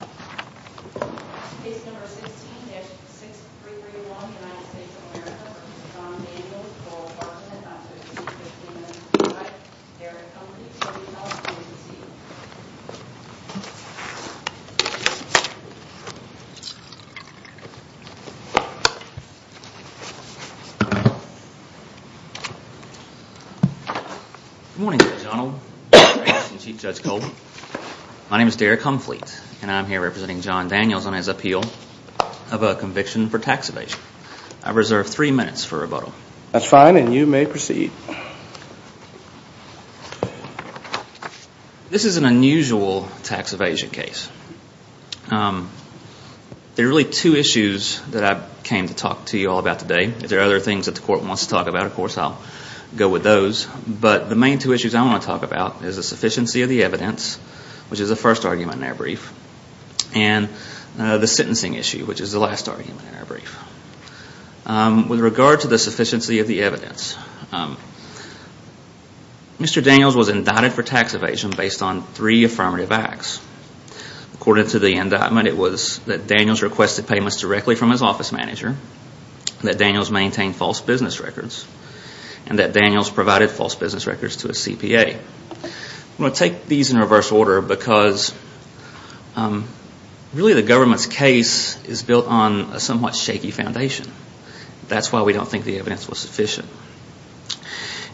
Good morning Judge Arnold, Judge Graves, and Chief Judge Cole. My name is Derek Humphrey and I'm here representing John Daniels on his appeal of a conviction for tax evasion. I reserve three minutes for rebuttal. That's fine and you may proceed. This is an unusual tax evasion case. There are really two issues that I came to talk to you all about today. If there are other things that the court wants to talk about, of course, I'll go with those. But the main two issues I want to talk about is the sufficiency of the evidence, which is the first argument in our brief, and the sentencing issue, which is the last argument in our brief. With regard to the sufficiency of the evidence, Mr. Daniels was indicted for tax evasion based on three affirmative acts. According to the indictment, it was that Daniels requested payments directly from his office manager, that Daniels maintained false business records, and that Daniels provided false business records to his CPA. I'm going to take these in reverse order because really the government's case is built on a somewhat shaky foundation. That's why we don't think the evidence was sufficient.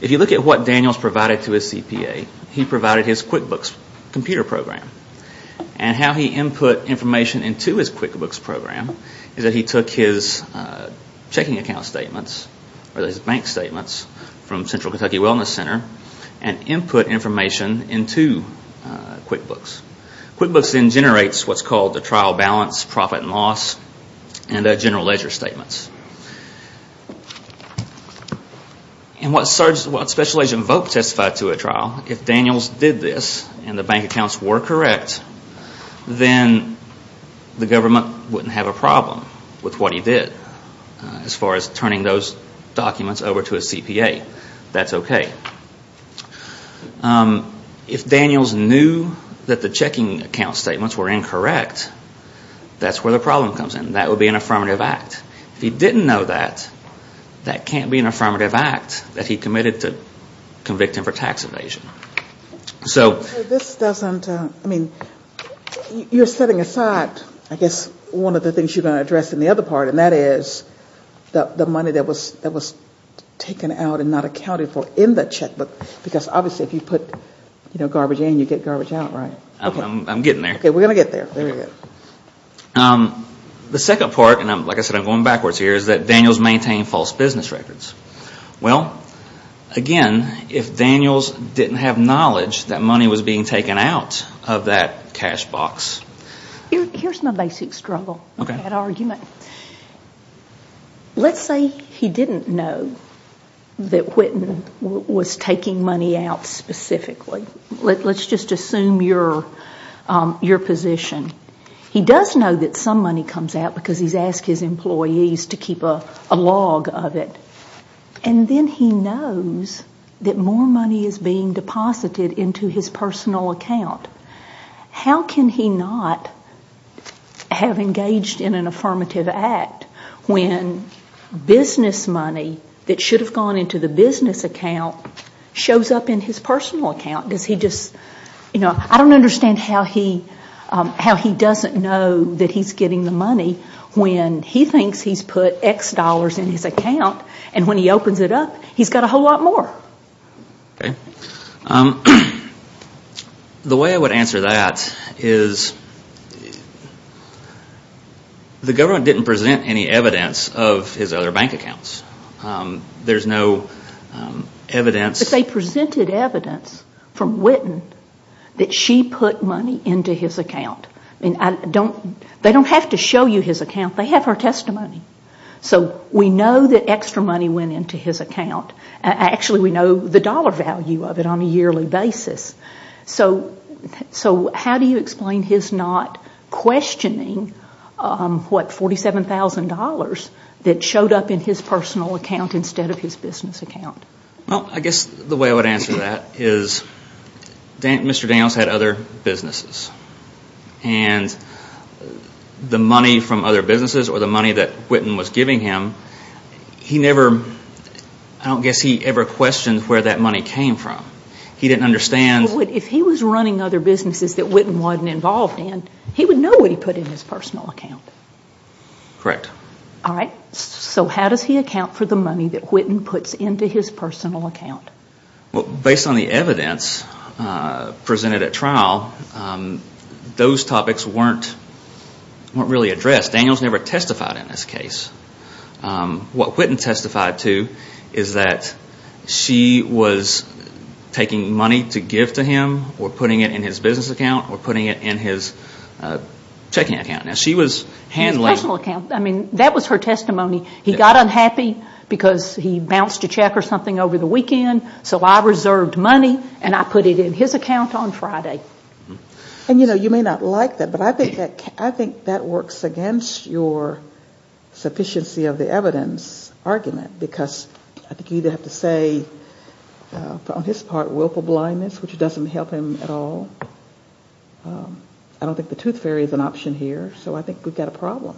If you look at what Daniels provided to his CPA, he provided his QuickBooks computer program. How he input information into his QuickBooks program is that he took his checking account statements, or his bank statements from Central Kentucky Wellness Center, and input information into QuickBooks. QuickBooks then generates what's called the trial balance, profit and loss, and general ledger statements. In what Special Agent Volk testified to at trial, if Daniels did this and the bank accounts were correct, then the government wouldn't have a problem with what he did as far as turning those documents over to his CPA. That's okay. If Daniels knew that the checking account statements were incorrect, that's where the problem comes in. That would be an affirmative act. If he didn't know that, that can't be an affirmative act that he committed to convicting for tax evasion. So this doesn't, I mean, you're setting aside, I guess, one of the things you're going to address in the other part, and that is the money that was taken out and not accounted for in the checkbook. Because obviously if you put garbage in, you get garbage out, right? I'm getting there. Okay, we're going to get there. There we go. The second part, and like I said, I'm going backwards here, is that Daniels maintained false business records. Well, again, if Daniels didn't have knowledge that money was being taken out of that cash box. Here's my basic struggle with that argument. Let's say he didn't know that Whitten was taking money out specifically. Let's just assume your position. He does know that some money comes out because he's asked his employees to keep a log of it. And then he knows that more money is being deposited into his personal account. How can he not have engaged in an affirmative act when business money that should have gone into the business account shows up in his personal account? I don't understand how he doesn't know that he's getting the money when he thinks he's put X dollars in his account. And when he opens it up, he's got a whole lot more. The way I would answer that is the government didn't present any evidence of his other bank accounts. There's no evidence. But they presented evidence from Whitten that she put money into his account. They don't have to show you his account. They have her testimony. So we know that extra money went into his account. Actually, we know the dollar value of it on a yearly basis. So how do you explain his not questioning $47,000 that showed up in his personal account instead of his business account? I guess the way I would answer that is Mr. Daniels had other businesses. And the money from other businesses or the money that Whitten was giving him, I don't guess he ever questioned where that money came from. He didn't understand. If he was running other businesses that Whitten wasn't involved in, he would know what he put in his personal account. Correct. All right. So how does he account for the money that Whitten puts into his personal account? Based on the evidence presented at trial, those topics weren't really addressed. Daniels never testified in this case. What Whitten testified to is that she was taking money to give to him or putting it in his business account or putting it in his checking account. Now, she was handling... His personal account. I mean, that was her testimony. He got unhappy because he bounced a check or something over the weekend, And, you know, you may not like that, but I think that works against your sufficiency of the evidence argument. Because I think you'd have to say, on his part, willful blindness, which doesn't help him at all. I don't think the tooth fairy is an option here. So I think we've got a problem.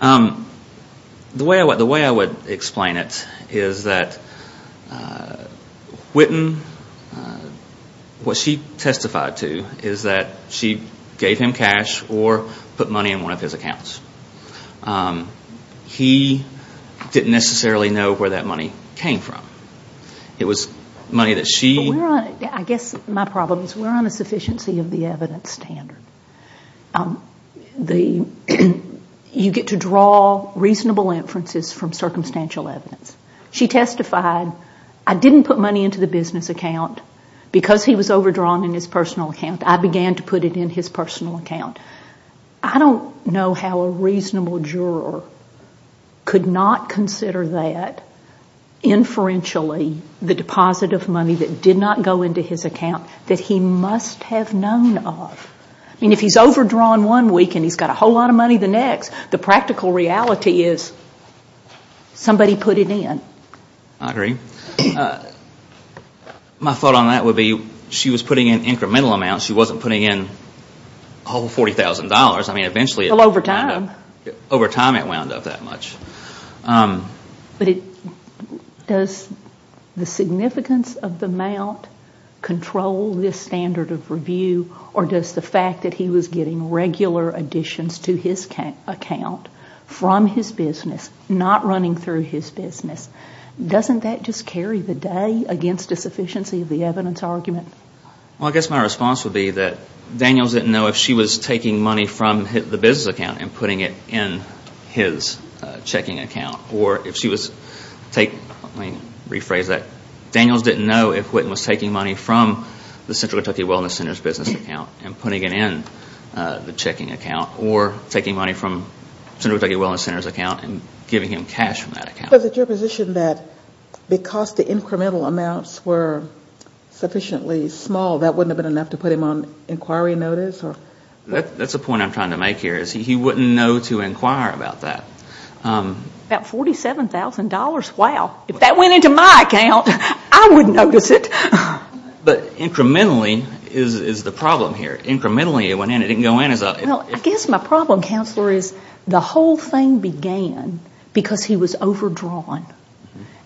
The way I would explain it is that Whitten, what she testified to, is that she gave him cash or put money in one of his accounts. He didn't necessarily know where that money came from. It was money that she... I guess my problem is we're on a sufficiency of the evidence standard. You get to draw reasonable inferences from circumstantial evidence. She testified, I didn't put money into the business account. Because he was overdrawn in his personal account, I began to put it in his personal account. I don't know how a reasonable juror could not consider that inferentially, the deposit of money that did not go into his account, that he must have known of. I mean, if he's overdrawn one week and he's got a whole lot of money the next, the practical reality is somebody put it in. I agree. My thought on that would be she was putting in incremental amounts. She wasn't putting in a whole $40,000. I mean, eventually... Well, over time. Over time it wound up that much. But does the significance of the amount control this standard of review, or does the fact that he was getting regular additions to his account from his business, not running through his business, doesn't that just carry the day against a sufficiency of the evidence argument? Well, I guess my response would be that Daniels didn't know if she was taking money from the business account and putting it in his checking account, or if she was taking... Let me rephrase that. Daniels didn't know if Whitten was taking money from the Central Kentucky Wellness Center's business account and putting it in the checking account, or taking money from Central Kentucky Wellness Center's account and giving him cash from that account. But is it your position that because the incremental amounts were sufficiently small, that wouldn't have been enough to put him on inquiry notice? That's a point I'm trying to make here, is he wouldn't know to inquire about that. About $47,000. Wow. If that went into my account, I wouldn't notice it. But incrementally is the problem here. Incrementally it went in. It didn't go in as a... Well, I guess my problem, Counselor, is the whole thing began because he was overdrawn.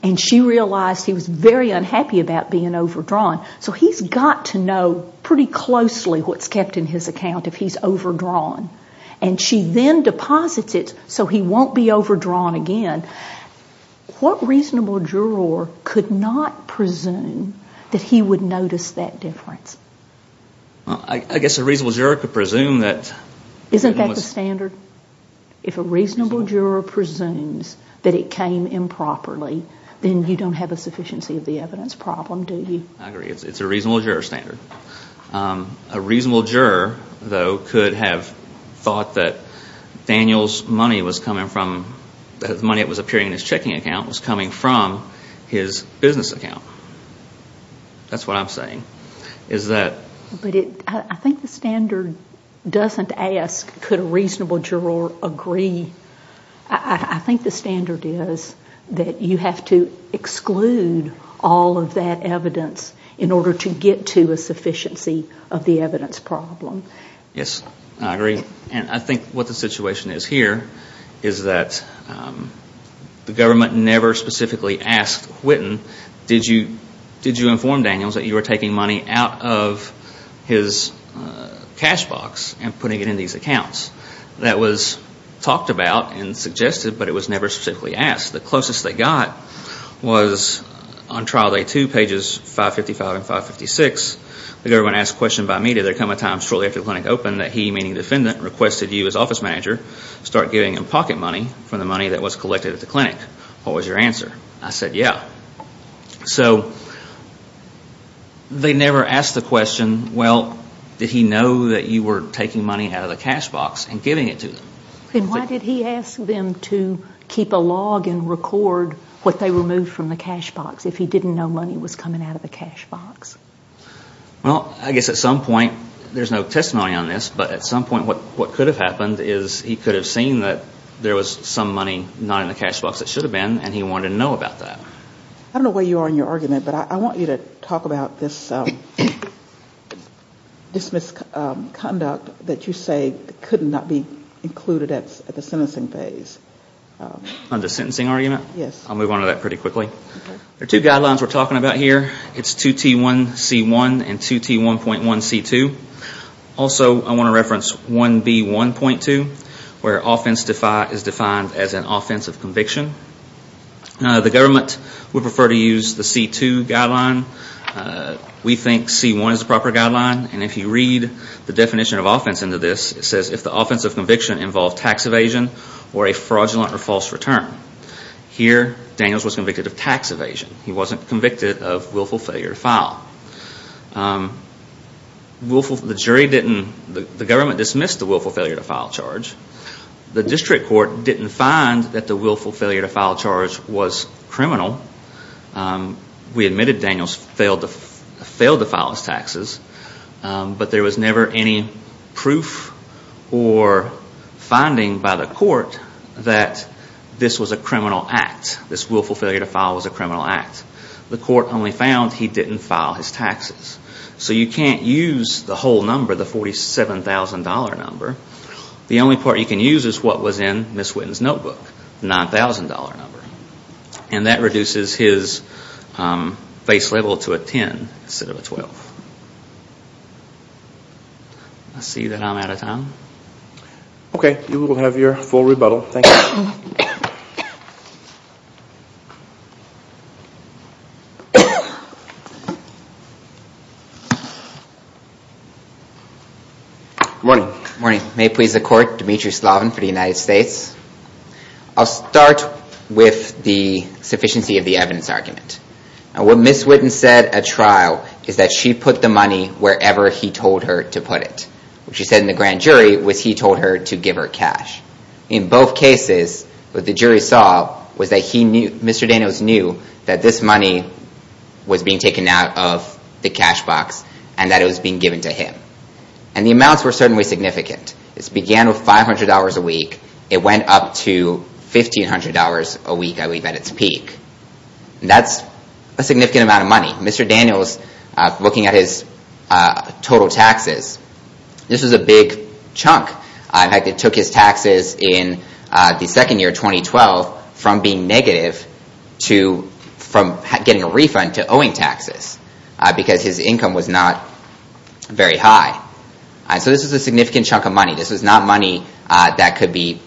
And she realized he was very unhappy about being overdrawn. So he's got to know pretty closely what's kept in his account if he's overdrawn. And she then deposits it so he won't be overdrawn again. What reasonable juror could not presume that he would notice that difference? I guess a reasonable juror could presume that... Isn't that the standard? If a reasonable juror presumes that it came improperly, then you don't have a sufficiency of the evidence problem, do you? I agree. It's a reasonable juror standard. A reasonable juror, though, could have thought that Daniel's money was coming from... The money that was appearing in his checking account was coming from his business account. That's what I'm saying, is that... I think the standard doesn't ask could a reasonable juror agree. I think the standard is that you have to exclude all of that evidence in order to get to a sufficiency of the evidence problem. Yes, I agree. And I think what the situation is here is that the government never specifically asked Whitten, did you inform Daniels that you were taking money out of his cash box and putting it in these accounts? That was talked about and suggested, but it was never specifically asked. The closest they got was on trial day two, pages 555 and 556. The government asked a question by me, did there come a time shortly after the clinic opened that he, meaning the defendant, requested you as office manager start giving him pocket money from the money that was collected at the clinic? What was your answer? I said, yeah. So they never asked the question, well, did he know that you were taking money out of the cash box and giving it to them? Then why did he ask them to keep a log and record what they removed from the cash box if he didn't know money was coming out of the cash box? Well, I guess at some point, there's no testimony on this, but at some point what could have happened is he could have seen that there was some money not in the cash box that should have been, and he wanted to know about that. I don't know where you are in your argument, but I want you to talk about this misconduct that you say could not be included at the sentencing phase. On the sentencing argument? Yes. I'll move on to that pretty quickly. There are two guidelines we're talking about here. It's 2T1C1 and 2T1.1C2. Also, I want to reference 1B1.2, where offense is defined as an offensive conviction. The government would prefer to use the C2 guideline. We think C1 is the proper guideline, and if you read the definition of offense into this, it says if the offensive conviction involved tax evasion or a fraudulent or false return. Here, Daniels was convicted of tax evasion. He wasn't convicted of willful failure to file. The government dismissed the willful failure to file charge. The district court didn't find that the willful failure to file charge was criminal. We admitted Daniels failed to file his taxes, but there was never any proof or finding by the court that this was a criminal act. This willful failure to file was a criminal act. The court only found he didn't file his taxes. So you can't use the whole number, the $47,000 number. The only part you can use is what was in Ms. Whitten's notebook, the $9,000 number. And that reduces his face level to a 10 instead of a 12. I see that I'm out of time. Okay, you will have your full rebuttal. Thank you. Good morning. Good morning. May it please the court. Dimitri Slovin for the United States. I'll start with the sufficiency of the evidence argument. What Ms. Whitten said at trial is that she put the money wherever he told her to put it. What she said in the grand jury was he told her to give her cash. In both cases, what the jury saw was that Mr. Daniels knew that this money was being taken out of the cash box and that it was being given to him. And the amounts were certainly significant. This began with $500 a week. It went up to $1,500 a week, I believe, at its peak. That's a significant amount of money. Mr. Daniels, looking at his total taxes, this was a big chunk. In fact, it took his taxes in the second year, 2012, from being negative to getting a refund to owing taxes because his income was not very high. So this was a significant chunk of money. This was not money that could be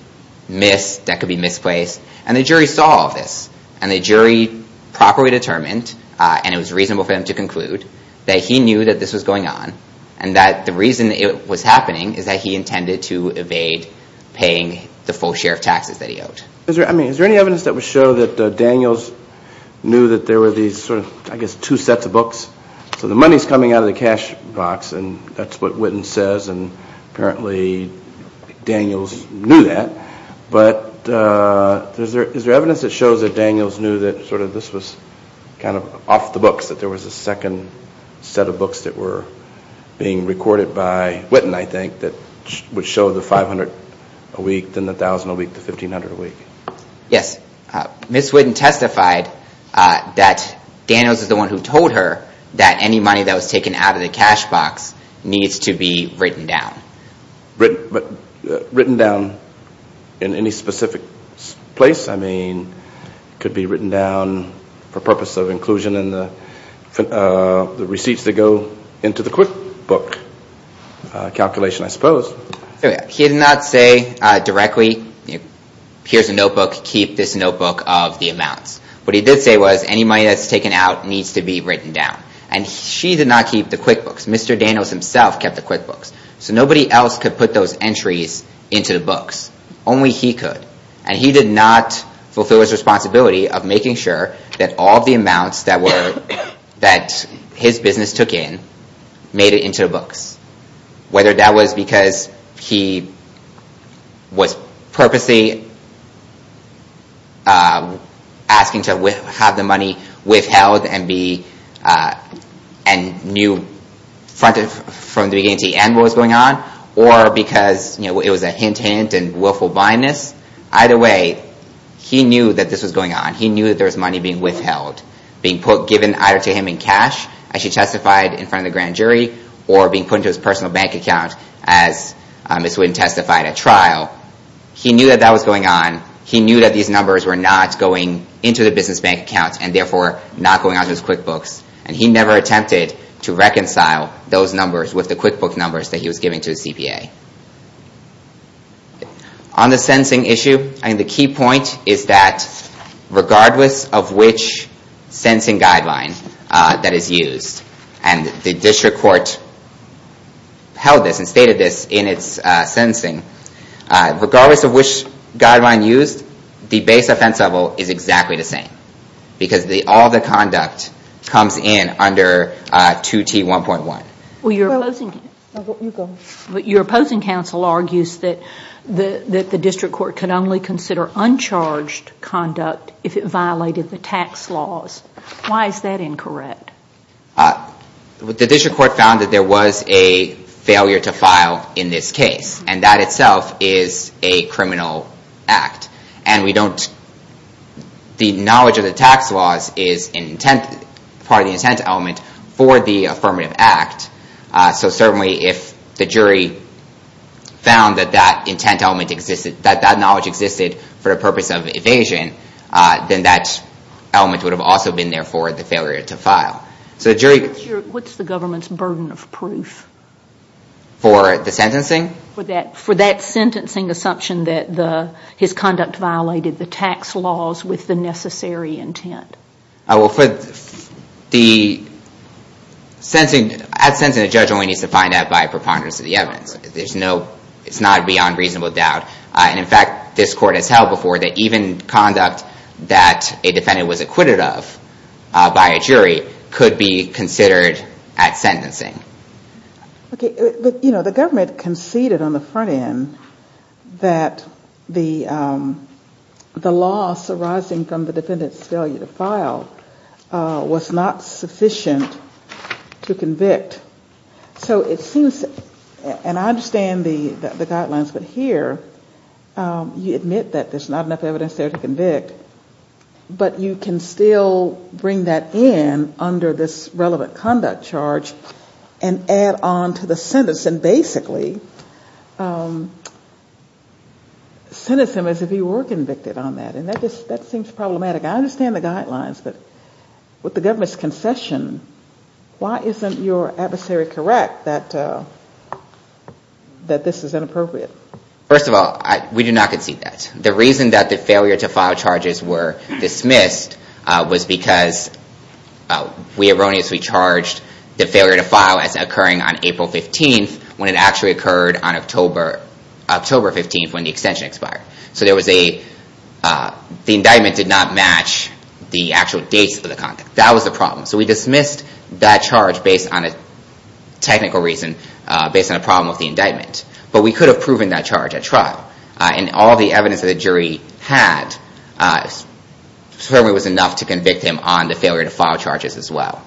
missed, that could be misplaced. And the jury saw all of this. And the jury properly determined, and it was reasonable for them to conclude, that he knew that this was going on and that the reason it was happening is that he intended to evade paying the full share of taxes that he owed. Is there any evidence that would show that Daniels knew that there were these two sets of books? So the money's coming out of the cash box, and that's what Witten says, and apparently Daniels knew that. But is there evidence that shows that Daniels knew that this was off the books, that there was a second set of books that were being recorded by Witten, I think, that would show the $500 a week, then the $1,000 a week, the $1,500 a week? Yes. Ms. Witten testified that Daniels is the one who told her that any money that was taken out of the cash box needs to be written down. But written down in any specific place? I mean, it could be written down for purpose of inclusion in the receipts that go into the QuickBook calculation, I suppose. He did not say directly, here's a notebook, keep this notebook of the amounts. What he did say was any money that's taken out needs to be written down. And she did not keep the QuickBooks. Mr. Daniels himself kept the QuickBooks. So nobody else could put those entries into the books. Only he could. And he did not fulfill his responsibility of making sure that all the amounts that his business took in made it into the books. Whether that was because he was purposely asking to have the money withheld and knew from the beginning to the end what was going on, or because it was a hint-hint and willful blindness. Either way, he knew that this was going on. He knew that there was money being withheld, being given either to him in cash, as she testified in front of the grand jury, or being put into his personal bank account as Ms. Witten testified at trial. He knew that that was going on. He knew that these numbers were not going into the business bank account and therefore not going onto his QuickBooks. And he never attempted to reconcile those numbers with the QuickBooks numbers that he was giving to the CPA. On the sentencing issue, the key point is that regardless of which sentencing guideline that is used, and the district court held this and stated this in its sentencing, regardless of which guideline used, the base offense level is exactly the same. Because all the conduct comes in under 2T1.1. Your opposing counsel argues that the district court could only consider uncharged conduct if it violated the tax laws. Why is that incorrect? The district court found that there was a failure to file in this case, and that itself is a criminal act. The knowledge of the tax laws is part of the intent element for the affirmative act. So certainly if the jury found that that knowledge existed for the purpose of evasion, then that element would have also been there for the failure to file. What's the government's burden of proof? For the sentencing? For that sentencing assumption that his conduct violated the tax laws with the necessary intent. At sentencing, a judge only needs to find out by preponderance of the evidence. It's not beyond reasonable doubt. In fact, this court has held before that even conduct that a defendant was acquitted of by a jury could be considered at sentencing. The government conceded on the front end that the loss arising from the defendant's failure to file was not sufficient to convict. So it seems, and I understand the guidelines, but here you admit that there's not enough evidence there to convict, but you can still bring that in under this relevant conduct charge and add on to the sentence and basically sentence him as if he were convicted on that. And that seems problematic. I understand the guidelines, but with the government's concession, why isn't your adversary correct that this is inappropriate? First of all, we do not concede that. The reason that the failure to file charges were dismissed was because we erroneously charged the failure to file as occurring on April 15th when it actually occurred on October 15th when the extension expired. So the indictment did not match the actual dates of the conduct. That was the problem. So we dismissed that charge based on a technical reason, based on a problem with the indictment. But we could have proven that charge at trial. And all the evidence that the jury had certainly was enough to convict him on the failure to file charges as well.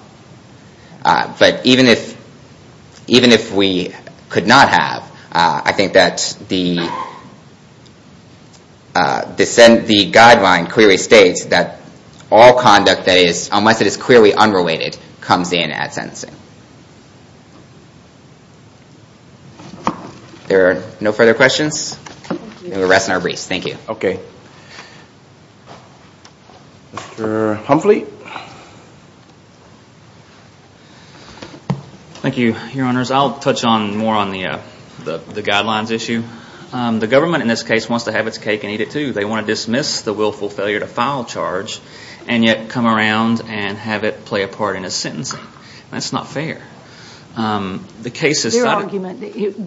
But even if we could not have, I think that the guideline clearly states that all conduct that is, unless it is clearly unrelated, comes in at sentencing. There are no further questions. And we're resting our briefs. Thank you. Okay. Mr. Humphley. Thank you, Your Honors. I'll touch more on the guidelines issue. The government in this case wants to have its cake and eat it too. They want to dismiss the willful failure to file charge and yet come around and have it play a part in a sentencing. That's not fair. Their argument,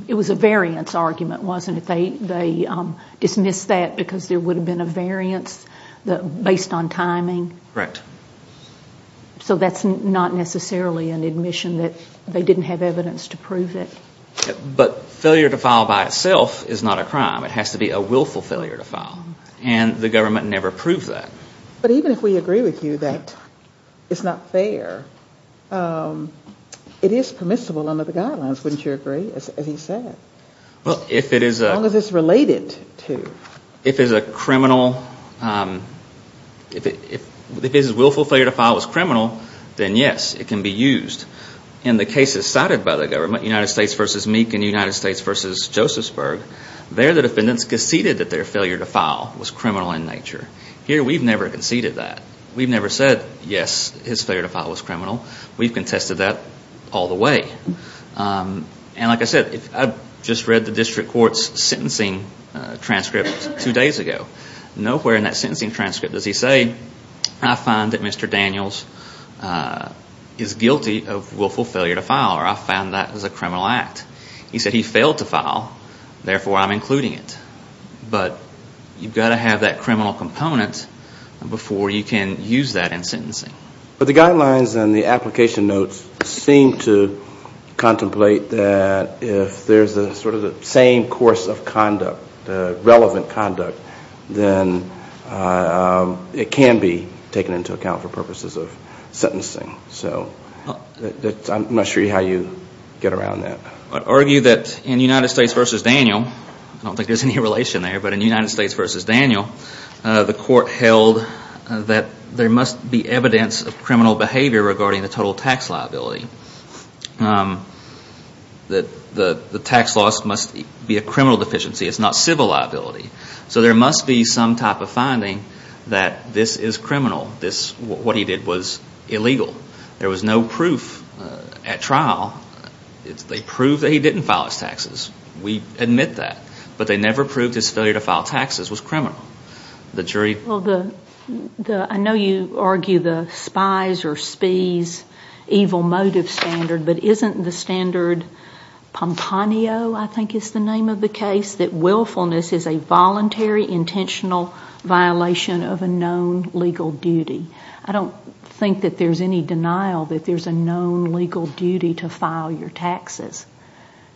it was a variance argument, wasn't it? They dismissed that because there would have been a variance based on timing. Correct. So that's not necessarily an admission that they didn't have evidence to prove it. But failure to file by itself is not a crime. It has to be a willful failure to file. And the government never proved that. But even if we agree with you that it's not fair, it is permissible under the guidelines, wouldn't you agree, as he said? As long as it's related to. If it's a criminal, if his willful failure to file was criminal, then yes, it can be used. In the cases cited by the government, United States v. Meek and United States v. Josephsburg, there the defendants conceded that their failure to file was criminal in nature. Here we've never conceded that. We've never said, yes, his failure to file was criminal. We've contested that all the way. And like I said, I just read the district court's sentencing transcript two days ago. Nowhere in that sentencing transcript does he say, I find that Mr. Daniels is guilty of willful failure to file or I found that as a criminal act. He said he failed to file, therefore I'm including it. But you've got to have that criminal component before you can use that in sentencing. But the guidelines and the application notes seem to contemplate that if there's sort of the same course of conduct, relevant conduct, then it can be taken into account for purposes of sentencing. So I'm not sure how you get around that. I'd argue that in United States v. Daniel, I don't think there's any relation there, but in United States v. Daniel, the court held that there must be evidence of criminal behavior regarding the total tax liability. The tax loss must be a criminal deficiency, it's not civil liability. So there must be some type of finding that this is criminal, what he did was illegal. There was no proof at trial. They proved that he didn't file his taxes. We admit that. But they never proved his failure to file taxes was criminal. The jury... Well, I know you argue the spies or spies evil motive standard, but isn't the standard Pomponio, I think is the name of the case, that willfulness is a voluntary, intentional violation of a known legal duty? I don't think that there's any denial that there's a known legal duty to file your taxes.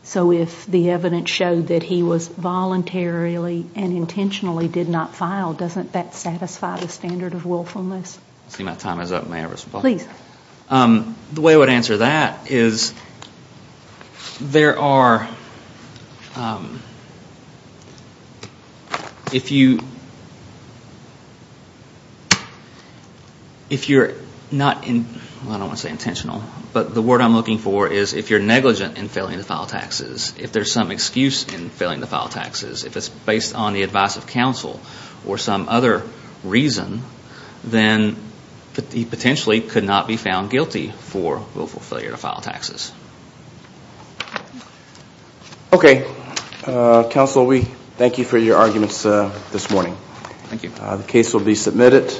So if the evidence showed that he was voluntarily and intentionally did not file, doesn't that satisfy the standard of willfulness? I see my time is up. May I respond? Please. The way I would answer that is there are... If you're not... I don't want to say intentional. But the word I'm looking for is if you're negligent in failing to file taxes, if there's some excuse in failing to file taxes, if it's based on the advice of counsel or some other reason, then he potentially could not be found guilty for willful failure to file taxes. Okay. Counsel, we thank you for your arguments this morning. Thank you. The case will be submitted.